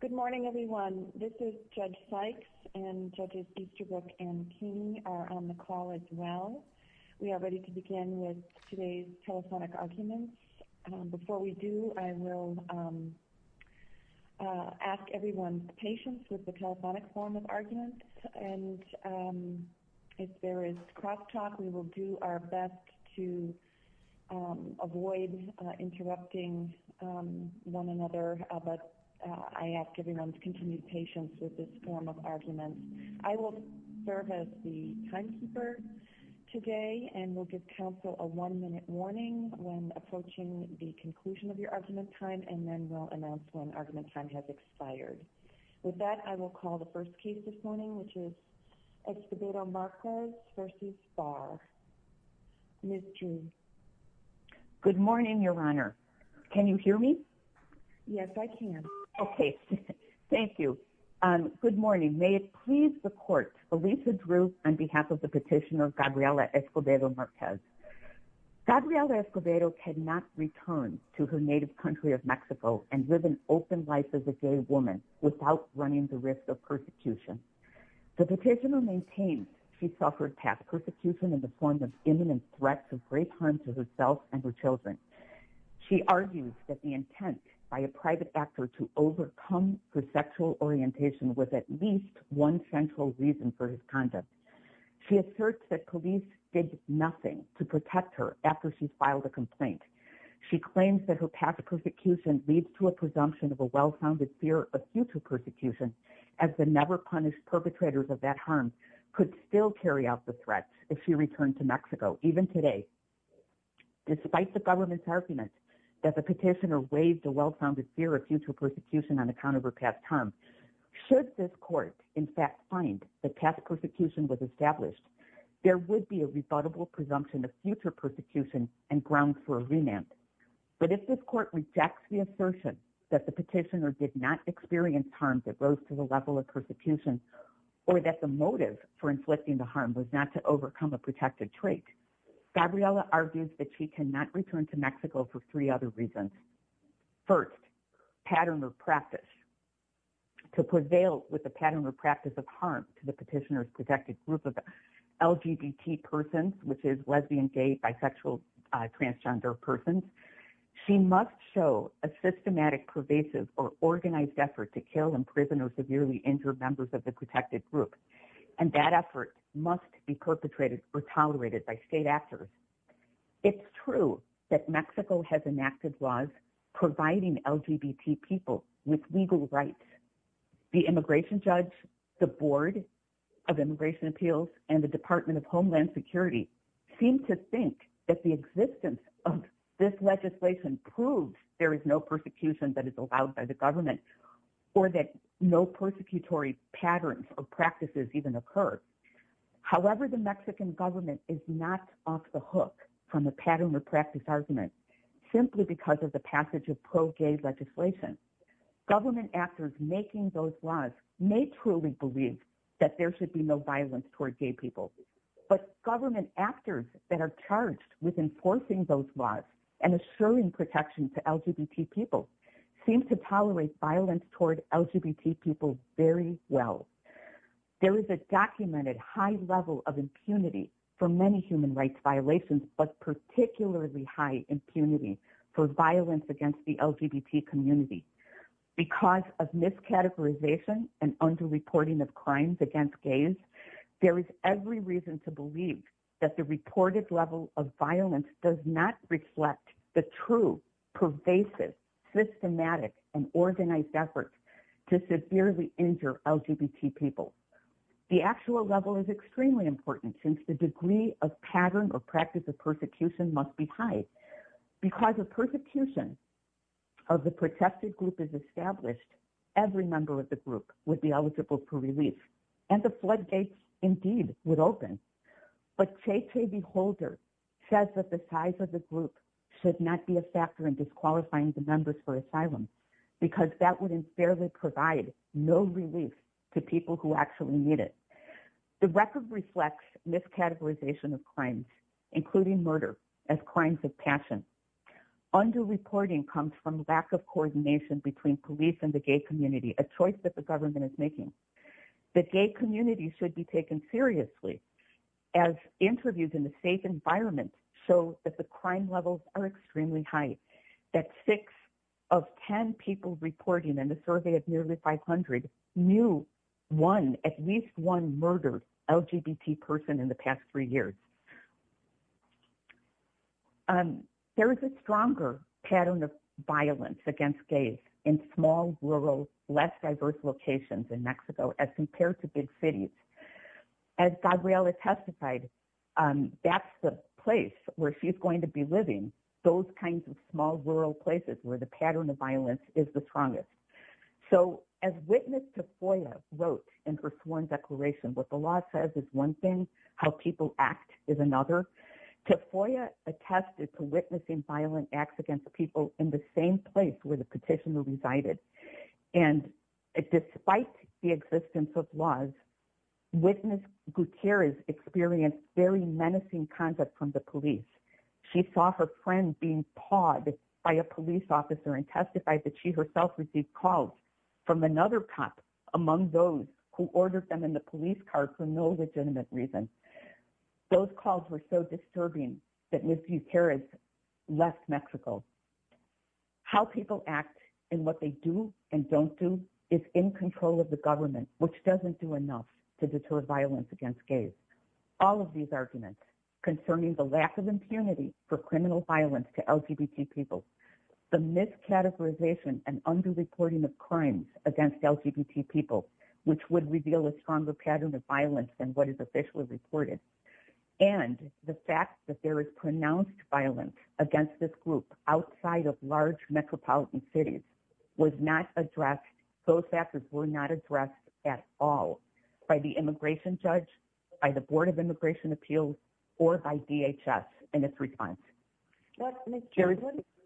Good morning, everyone. This is Judge Sykes, and Judges Easterbrook and Keeney are on the call as well. We are ready to begin with today's telephonic arguments. Before we do, I will ask everyone's patience with the telephonic form of arguments, and if there is cross-talk, we will do our best to avoid interrupting one another, but I ask everyone's continued patience with this form of argument. I will serve as the timekeeper today, and we'll give counsel a one-minute warning when approaching the conclusion of your argument time, and then we'll announce when argument time has expired. With that, I will call the first case this morning, which is Escobedo-Marquez v. Barr. Ms. June. Good morning, Your Honor. Can you hear me? Yes, I can. Okay. Thank you. Good morning. May it please the Court, Elisa Drew on behalf of the petitioner Gabriela Escobedo-Marquez. Gabriela Escobedo cannot return to her native country of Mexico and live an open life as a gay woman without running the risk of persecution. The petitioner maintains she suffered past persecution in the form of imminent threats of rape harm to herself and her children. She argues that the intent by a private actor to overcome her sexual orientation was at least one central reason for his conduct. She asserts that police did nothing to protect her after she filed a complaint. She claims that her past persecution leads to a presumption of a well-founded fear of future persecution, as the never-punished perpetrators of that harm could still carry out the threat if she returned to Mexico, even today. Despite the government's argument that the petitioner waived a well-founded fear of future persecution on account of her past harm, should this Court, in fact, find that past persecution was established, there would be a rebuttable presumption of future the petitioner did not experience harm that rose to the level of persecution, or that the motive for inflicting the harm was not to overcome a protected trait. Gabriela argues that she cannot return to Mexico for three other reasons. First, pattern of practice. To prevail with the pattern of practice of harm to the petitioner's protected group of LGBT persons, which is lesbian, gay, bisexual, transgender persons, she must show a systematic, pervasive, or organized effort to kill and imprison or severely injure members of the protected group, and that effort must be perpetrated or tolerated by state actors. It's true that Mexico has enacted laws providing LGBT people with legal rights. The immigration judge, the Board of Immigration Appeals, and the Department of Homeland Security seem to think that the existence of this legislation proves there is no persecution that is allowed by the government, or that no persecutory patterns or practices even occur. However, the Mexican government is not off the hook from the pattern of practice argument, simply because of the that there should be no violence toward gay people. But government actors that are charged with enforcing those laws and assuring protection to LGBT people seem to tolerate violence toward LGBT people very well. There is a documented high level of impunity for many human rights violations, but particularly high impunity for violence against the LGBT community because of miscategorization and under-reporting of crimes against gays, there is every reason to believe that the reported level of violence does not reflect the true, pervasive, systematic, and organized efforts to severely injure LGBT people. The actual level is extremely important since the degree of pattern or practice of persecution must be high. Because of persecution of the protested group is established, every member of the group would be eligible for relief, and the floodgates indeed would open. But Che Che the Holder says that the size of the group should not be a factor in disqualifying the members for asylum, because that would unfairly provide no relief to people who actually need it. The record reflects miscategorization of crimes, including murder, as crimes of passion. Under-reporting comes from lack of coordination between police and the gay community, a choice that the government is making. The gay community should be taken seriously, as interviews in a safe environment show that the crime levels are extremely high. That six of ten people reporting in a survey of There is a stronger pattern of violence against gays in small, rural, less diverse locations in Mexico as compared to big cities. As Gabriela testified, that's the place where she's going to be living, those kinds of small, rural places where the pattern of violence is the strongest. So, as witness to FOIA wrote in her sworn declaration, what the law says is one thing, how people act is another, to FOIA attested to witnessing violent acts against people in the same place where the petitioner resided. And despite the existence of laws, witness Gutierrez experienced very menacing conduct from the police. She saw her friend being pawed by a police officer and testified that she herself received calls from another cop among those who ordered them in the police car for no legitimate reason. Those calls were so disturbing that Ms. Gutierrez left Mexico. How people act and what they do and don't do is in control of the government, which doesn't do enough to deter violence against gays. All of these arguments concerning the lack of impunity for criminal violence to LGBT people, the mis-categorization and under-reporting of crimes against LGBT people, which would reveal a stronger pattern of violence than what is officially reported, and the fact that there is pronounced violence against this group outside of large metropolitan cities was not addressed, those factors were not addressed at all by the immigration judge, by the Board of Immigration Appeals, or by DHS in its response. Ms. Gutierrez,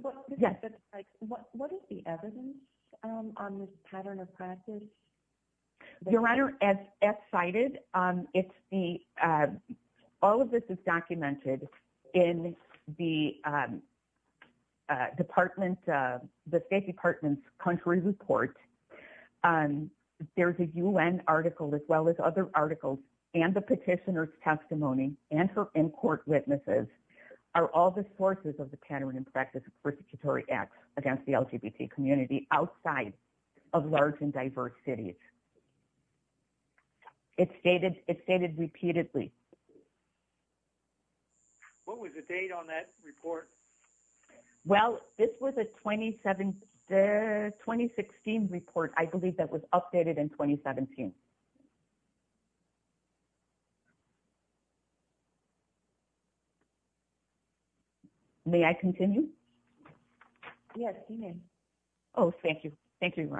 what is the evidence on this pattern of practice? Your Honor, as cited, all of this is documented in the State Department's country report. There's a U.N. article as well as other articles and the petitioner's testimony and her in-court witnesses are all the sources of the pattern and practice of persecutory acts against the LGBT community outside of large and diverse cities. It's stated repeatedly. What was the date on that report? Well, this was a 2016 report. I believe that was updated in 2017. May I continue? Yes, you may. Oh, thank you. Thank you, Your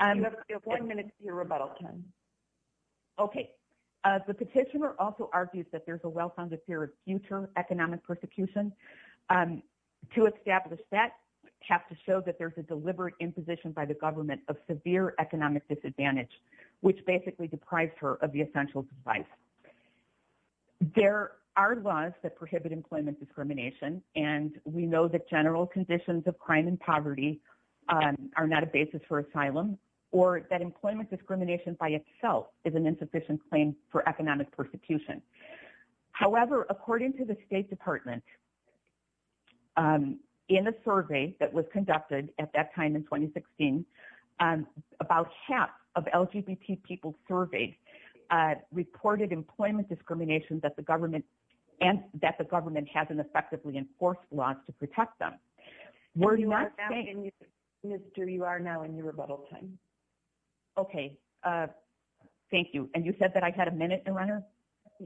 Honor. You have one minute to your rebuttal, Ken. Okay. The petitioner also argues that there's a well-founded fear of future economic persecution. To establish that, we have to show that there's a deliberate imposition by the government of severe economic disadvantage, which basically deprives her of the essential device. There are laws that prohibit employment discrimination, and we know that general conditions of crime and poverty are not a basis for asylum or that employment discrimination by itself is an insufficient claim for economic persecution. However, according to the State Department, in a survey that was conducted at that time in 2016, about half of LGBT people surveyed reported employment discrimination that the government hasn't effectively enforced laws to protect them. You are now in your rebuttal time. Okay. Thank you. And you said that I had a minute, Your Honor?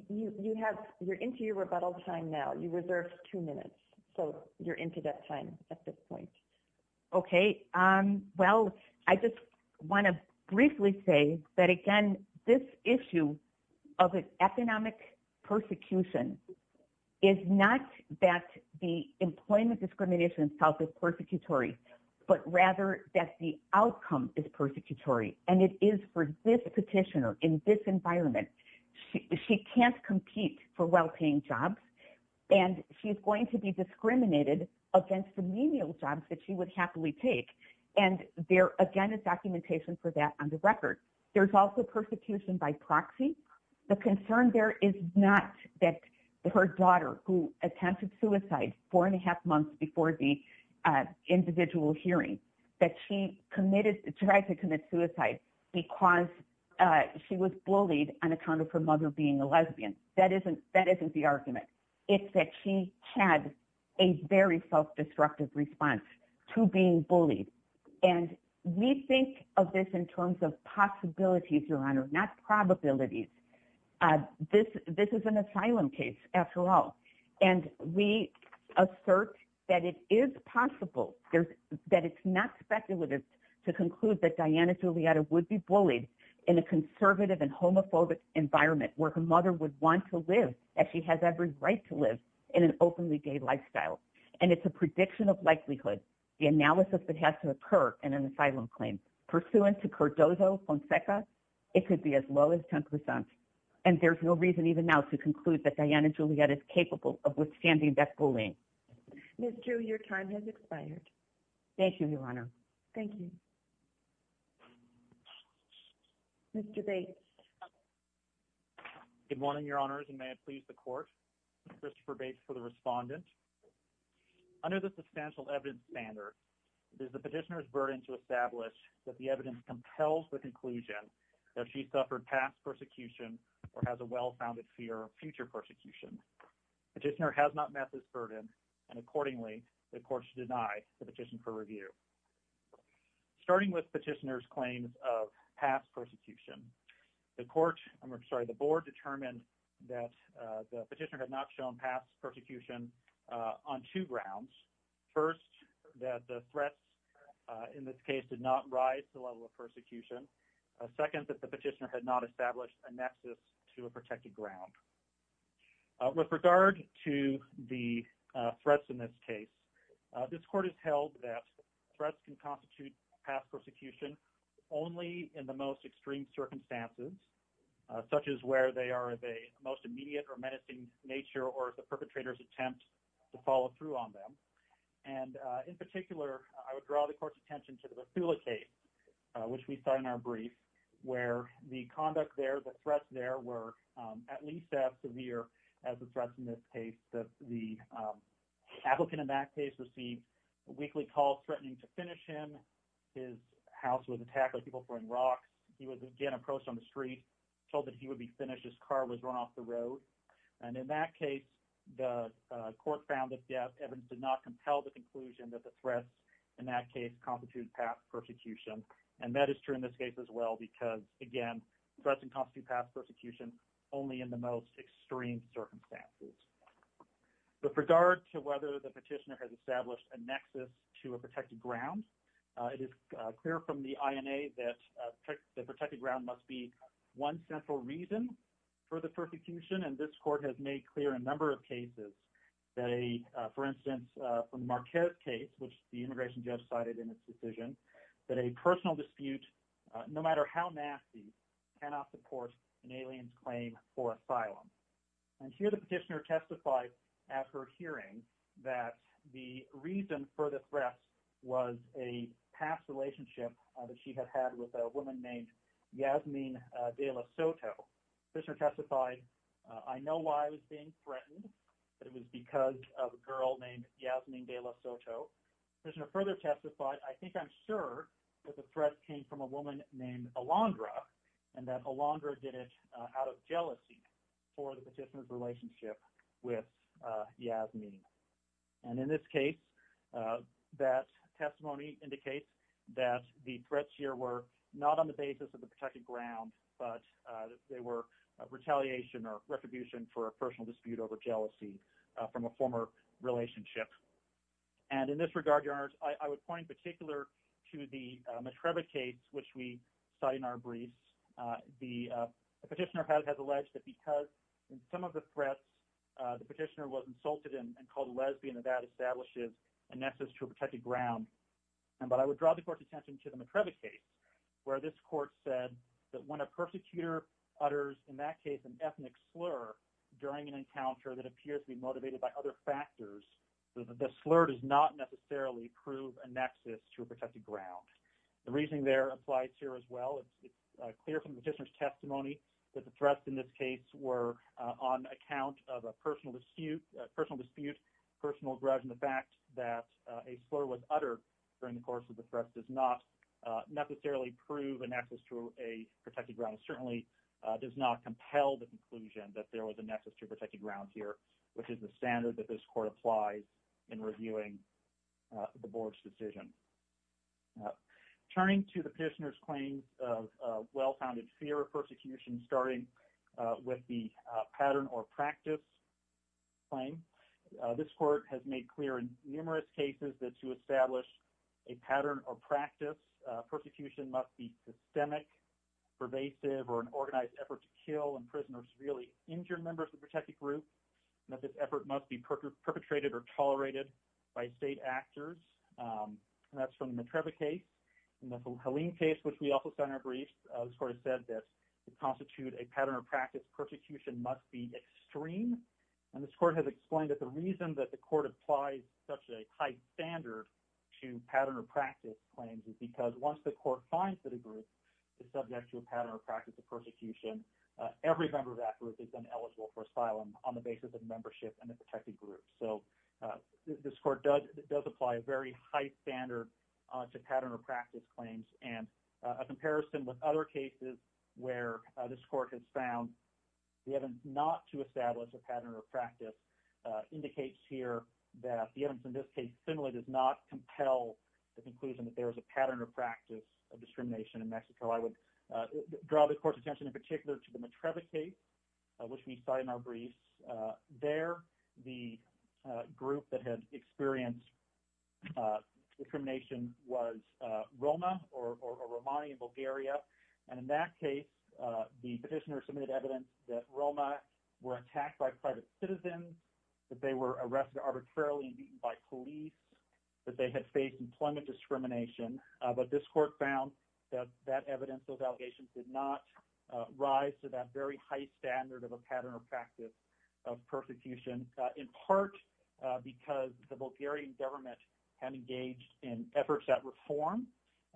You're into your rebuttal time now. You reserved two minutes, so you're into that time at this point. Okay. Well, I just want to briefly say that, again, this issue of economic persecution is not that the employment discrimination itself is persecutory, but rather that the outcome is persecutory, and it is for this petitioner in this environment. She can't compete for well-paying jobs, and she's going to be discriminated against the menial jobs that she would happily take, and there, again, is documentation for that on the record. There's also persecution by proxy. The concern there is not that her daughter, who attempted suicide four and a half months before the individual hearing, that she tried to commit suicide because she was bullied on account of her mother being a lesbian. That isn't the argument. It's that she had a very self-destructive response to being bullied. We think of this in terms of possibilities, Your Honor, not probabilities. This is an asylum case, after all, and we assert that it is possible, that it's not speculative, to conclude that Diana Giulietta would be bullied in a conservative and homophobic environment where her mother would want to live, that she has every right to live, in an openly gay lifestyle. And it's a prediction of likelihood, the analysis that has to occur in an asylum claim. Pursuant to Cordozo-Fonseca, it could be as low as 10%, and there's no reason even now to conclude that Diana Giulietta is capable of withstanding that bullying. Ms. Drew, your time has expired. Thank you, Your Honor. Thank you. Mr. Bates. Good morning, Your Honors, and may it please the Court. I'm Christopher Bates for the Respondent. Under the substantial evidence standard, it is the petitioner's burden to establish that the evidence compels the conclusion that she suffered past persecution or has a well-founded fear of future persecution. The petitioner has not met this burden, and accordingly, the Court should deny the petition for review. Starting with the petitioner's claims of past persecution, the Board determined that the petitioner had not shown past persecution on two grounds. First, that the threats in this case did not rise to the level of persecution. Second, that the petitioner had not established a nexus to a protected ground. With regard to the threats in this case, this Court has held that threats can constitute past persecution only in the most extreme circumstances, such as where they are of a most immediate or menacing nature or the perpetrator's attempt to follow through on them. And in particular, I would draw the Court's attention to the Basula case, which we saw in our brief, where the conduct there, the threats there, were at least as severe as the threats in this case. The applicant in that case received a weekly call threatening to finish him. His house was attacked by people throwing rocks. He was again approached on the street, told that he would be finished. His car was run off the road. And in that case, the Court found that the evidence did not compel the conclusion that the threats in that case constitute past persecution. And that is true in this case as well, because, again, threats can constitute past persecution only in the most extreme circumstances. With regard to whether the petitioner has established a nexus to a protected ground, it is clear from the INA that the protected ground must be one central reason for the persecution. And this Court has made clear in a number of cases, for instance, from the Marquette case, which the immigration judge cited in its decision, that a personal dispute, no matter how nasty, cannot support an alien's claim for asylum. And here the petitioner testified at her hearing that the reason for the threat was a past relationship that she had had with a woman named Yasmin de la Soto. The petitioner testified, I know why I was being threatened, that it was because of a girl named Yasmin de la Soto. The petitioner further testified, I think I'm sure that the threat came from a woman named Alondra and that Alondra did it out of jealousy for the petitioner's relationship with Yasmin. And in this case, that testimony indicates that the threats here were not on the basis of the protected ground, but they were retaliation or retribution for a personal dispute over jealousy from a former relationship. And in this regard, Your Honors, I would point in particular to the Matrebek case, which we cite in our briefs. The petitioner has alleged that because in some of the threats, the petitioner was insulted and called a lesbian, and that establishes a nexus to a protected ground. But I would draw the Court's attention to the Matrebek case, where this Court said that when a persecutor utters, in that case, an ethnic slur during an encounter that appears to be motivated by other factors, the slur does not necessarily prove a nexus to a protected ground. The reasoning there applies here as well. It's clear from the petitioner's testimony that the threats in this case were on account of a personal dispute, personal grudge, and the fact that a slur was uttered during the course of the threat does not necessarily prove a nexus to a protected ground. And certainly does not compel the conclusion that there was a nexus to a protected ground here, which is the standard that this Court applies in reviewing the Board's decision. Turning to the petitioner's claims of well-founded fear of persecution, starting with the pattern or practice claim, this Court has made clear in numerous cases that to establish a pattern or practice, persecution must be systemic, pervasive, or an organized effort to kill and imprison a severely injured member of the protected group, and that this effort must be perpetrated or tolerated by state actors. And that's from the Matrebek case. In the Helene case, which we also found in our briefs, this Court has said that to constitute a pattern or practice, persecution must be extreme. And this Court has explained that the reason that the Court applies such a high standard to pattern or practice claims is because once the Court finds that a group is subject to a pattern or practice of persecution, every member of that group is then eligible for asylum on the basis of membership in a protected group. So this Court does apply a very high standard to pattern or practice claims. And a comparison with other cases where this Court has found the evidence not to establish a pattern or practice indicates here that the evidence in this case similarly does not compel the conclusion that there is a pattern or practice of discrimination in Mexico. I would draw the Court's attention in particular to the Matrebek case, which we cite in our briefs. There, the group that had experienced discrimination was Roma or Romani in Bulgaria. And in that case, the petitioner submitted evidence that Roma were attacked by private citizens, that they were arrested arbitrarily and beaten by police, that they had faced employment discrimination. But this Court found that that evidence, those allegations, did not rise to that very high standard of a pattern or practice of persecution, in part because the Bulgarian government had engaged in efforts at reform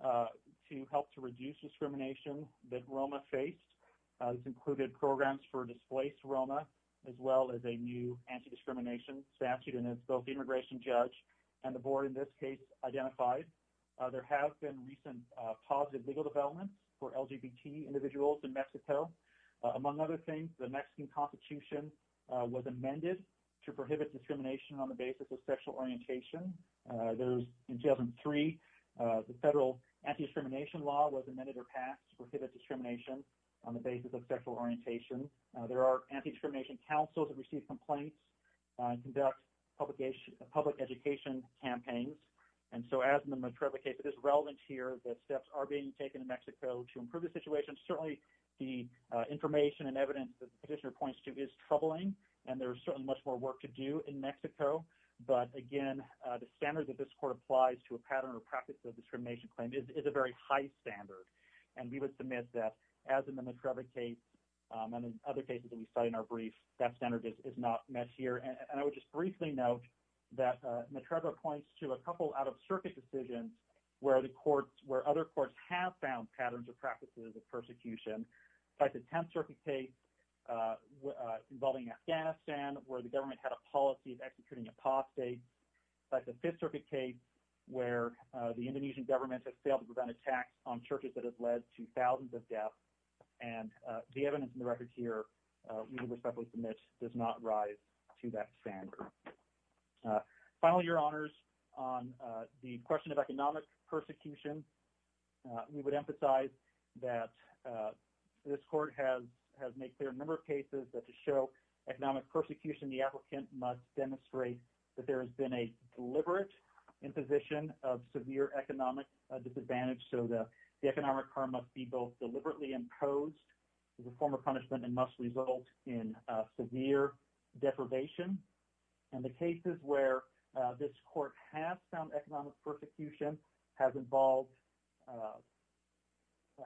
to help to reduce discrimination that Roma faced. This included programs for displaced Roma, as well as a new anti-discrimination statute. And as both the immigration judge and the Board in this case identified, there have been recent positive legal developments for LGBT individuals in Mexico. Among other things, the Mexican Constitution was amended to prohibit discrimination on the basis of sexual orientation. In 2003, the federal anti-discrimination law was amended or passed to prohibit discrimination on the basis of sexual orientation. There are anti-discrimination councils that receive complaints and conduct public education campaigns. And so, as in the Medreira case, it is relevant here that steps are being taken in Mexico to improve the situation. Certainly, the information and evidence that the petitioner points to is troubling, and there is certainly much more work to do in Mexico. But again, the standard that this Court applies to a pattern or practice of discrimination claim is a very high standard. And we would submit that, as in the Medreira case and in other cases that we study in our brief, that standard is not met here. And I would just briefly note that Medreira points to a couple out-of-circuit decisions where other courts have found patterns or practices of persecution, like the Tenth Circuit case involving Afghanistan, where the government had a policy of executing apostates, like the Fifth Circuit case where the Indonesian government has failed to prevent attacks on churches that have led to thousands of deaths. And the evidence in the record here, we would respectfully submit, does not rise to that standard. Finally, Your Honors, on the question of economic persecution, we would emphasize that this Court has made clear in a number of cases that to show economic persecution, the applicant must demonstrate that there has been a deliberate imposition of severe economic disadvantage. So the economic harm must be both deliberately imposed as a form of punishment and must result in severe deprivation. And the cases where this Court has found economic persecution have involved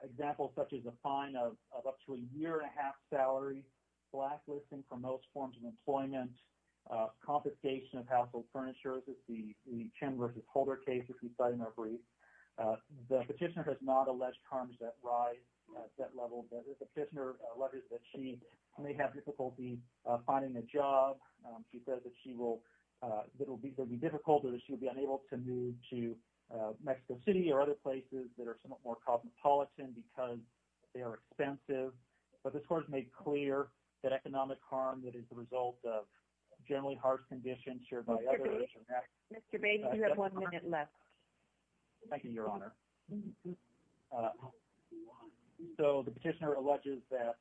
examples such as a fine of up to a year-and-a-half salary, blacklisting for most forms of employment, confiscation of household furniture, as we see in the Chin v. Holder case that we study in our brief. The petitioner has not alleged harms that rise to that level. The petitioner alleges that she may have difficulty finding a job. She says that it will be difficult or that she will be unable to move to Mexico City or other places that are somewhat more cosmopolitan because they are expensive. But this Court has made clear that economic harm that is the result of generally harsh conditions shared by others— Mr. Bates, you have one minute left. Thank you, Your Honor. So the petitioner alleges that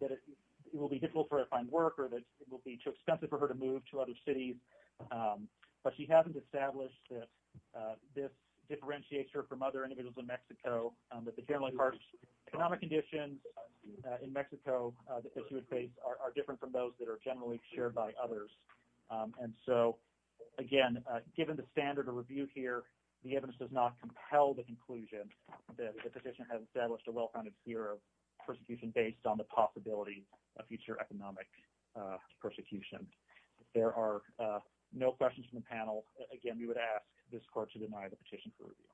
it will be difficult for her to find work or that it will be too expensive for her to move to other cities. But she hasn't established that this differentiates her from other individuals in Mexico, that the generally harsh economic conditions in Mexico that she would face are different from those that are generally shared by others. And so, again, given the standard of review here, the evidence does not compel the conclusion that the petitioner has established a well-founded fear of persecution based on the possibility of future economic persecution. If there are no questions from the panel, again, we would ask this Court to deny the petition for review.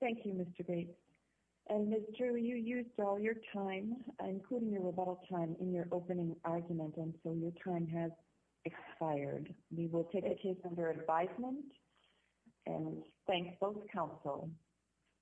Thank you, Mr. Bates. And, Ms. Drew, you used all your time, including your rebuttal time, in your opening argument, and so your time has expired. We will take a case under advisement and thank both counsel.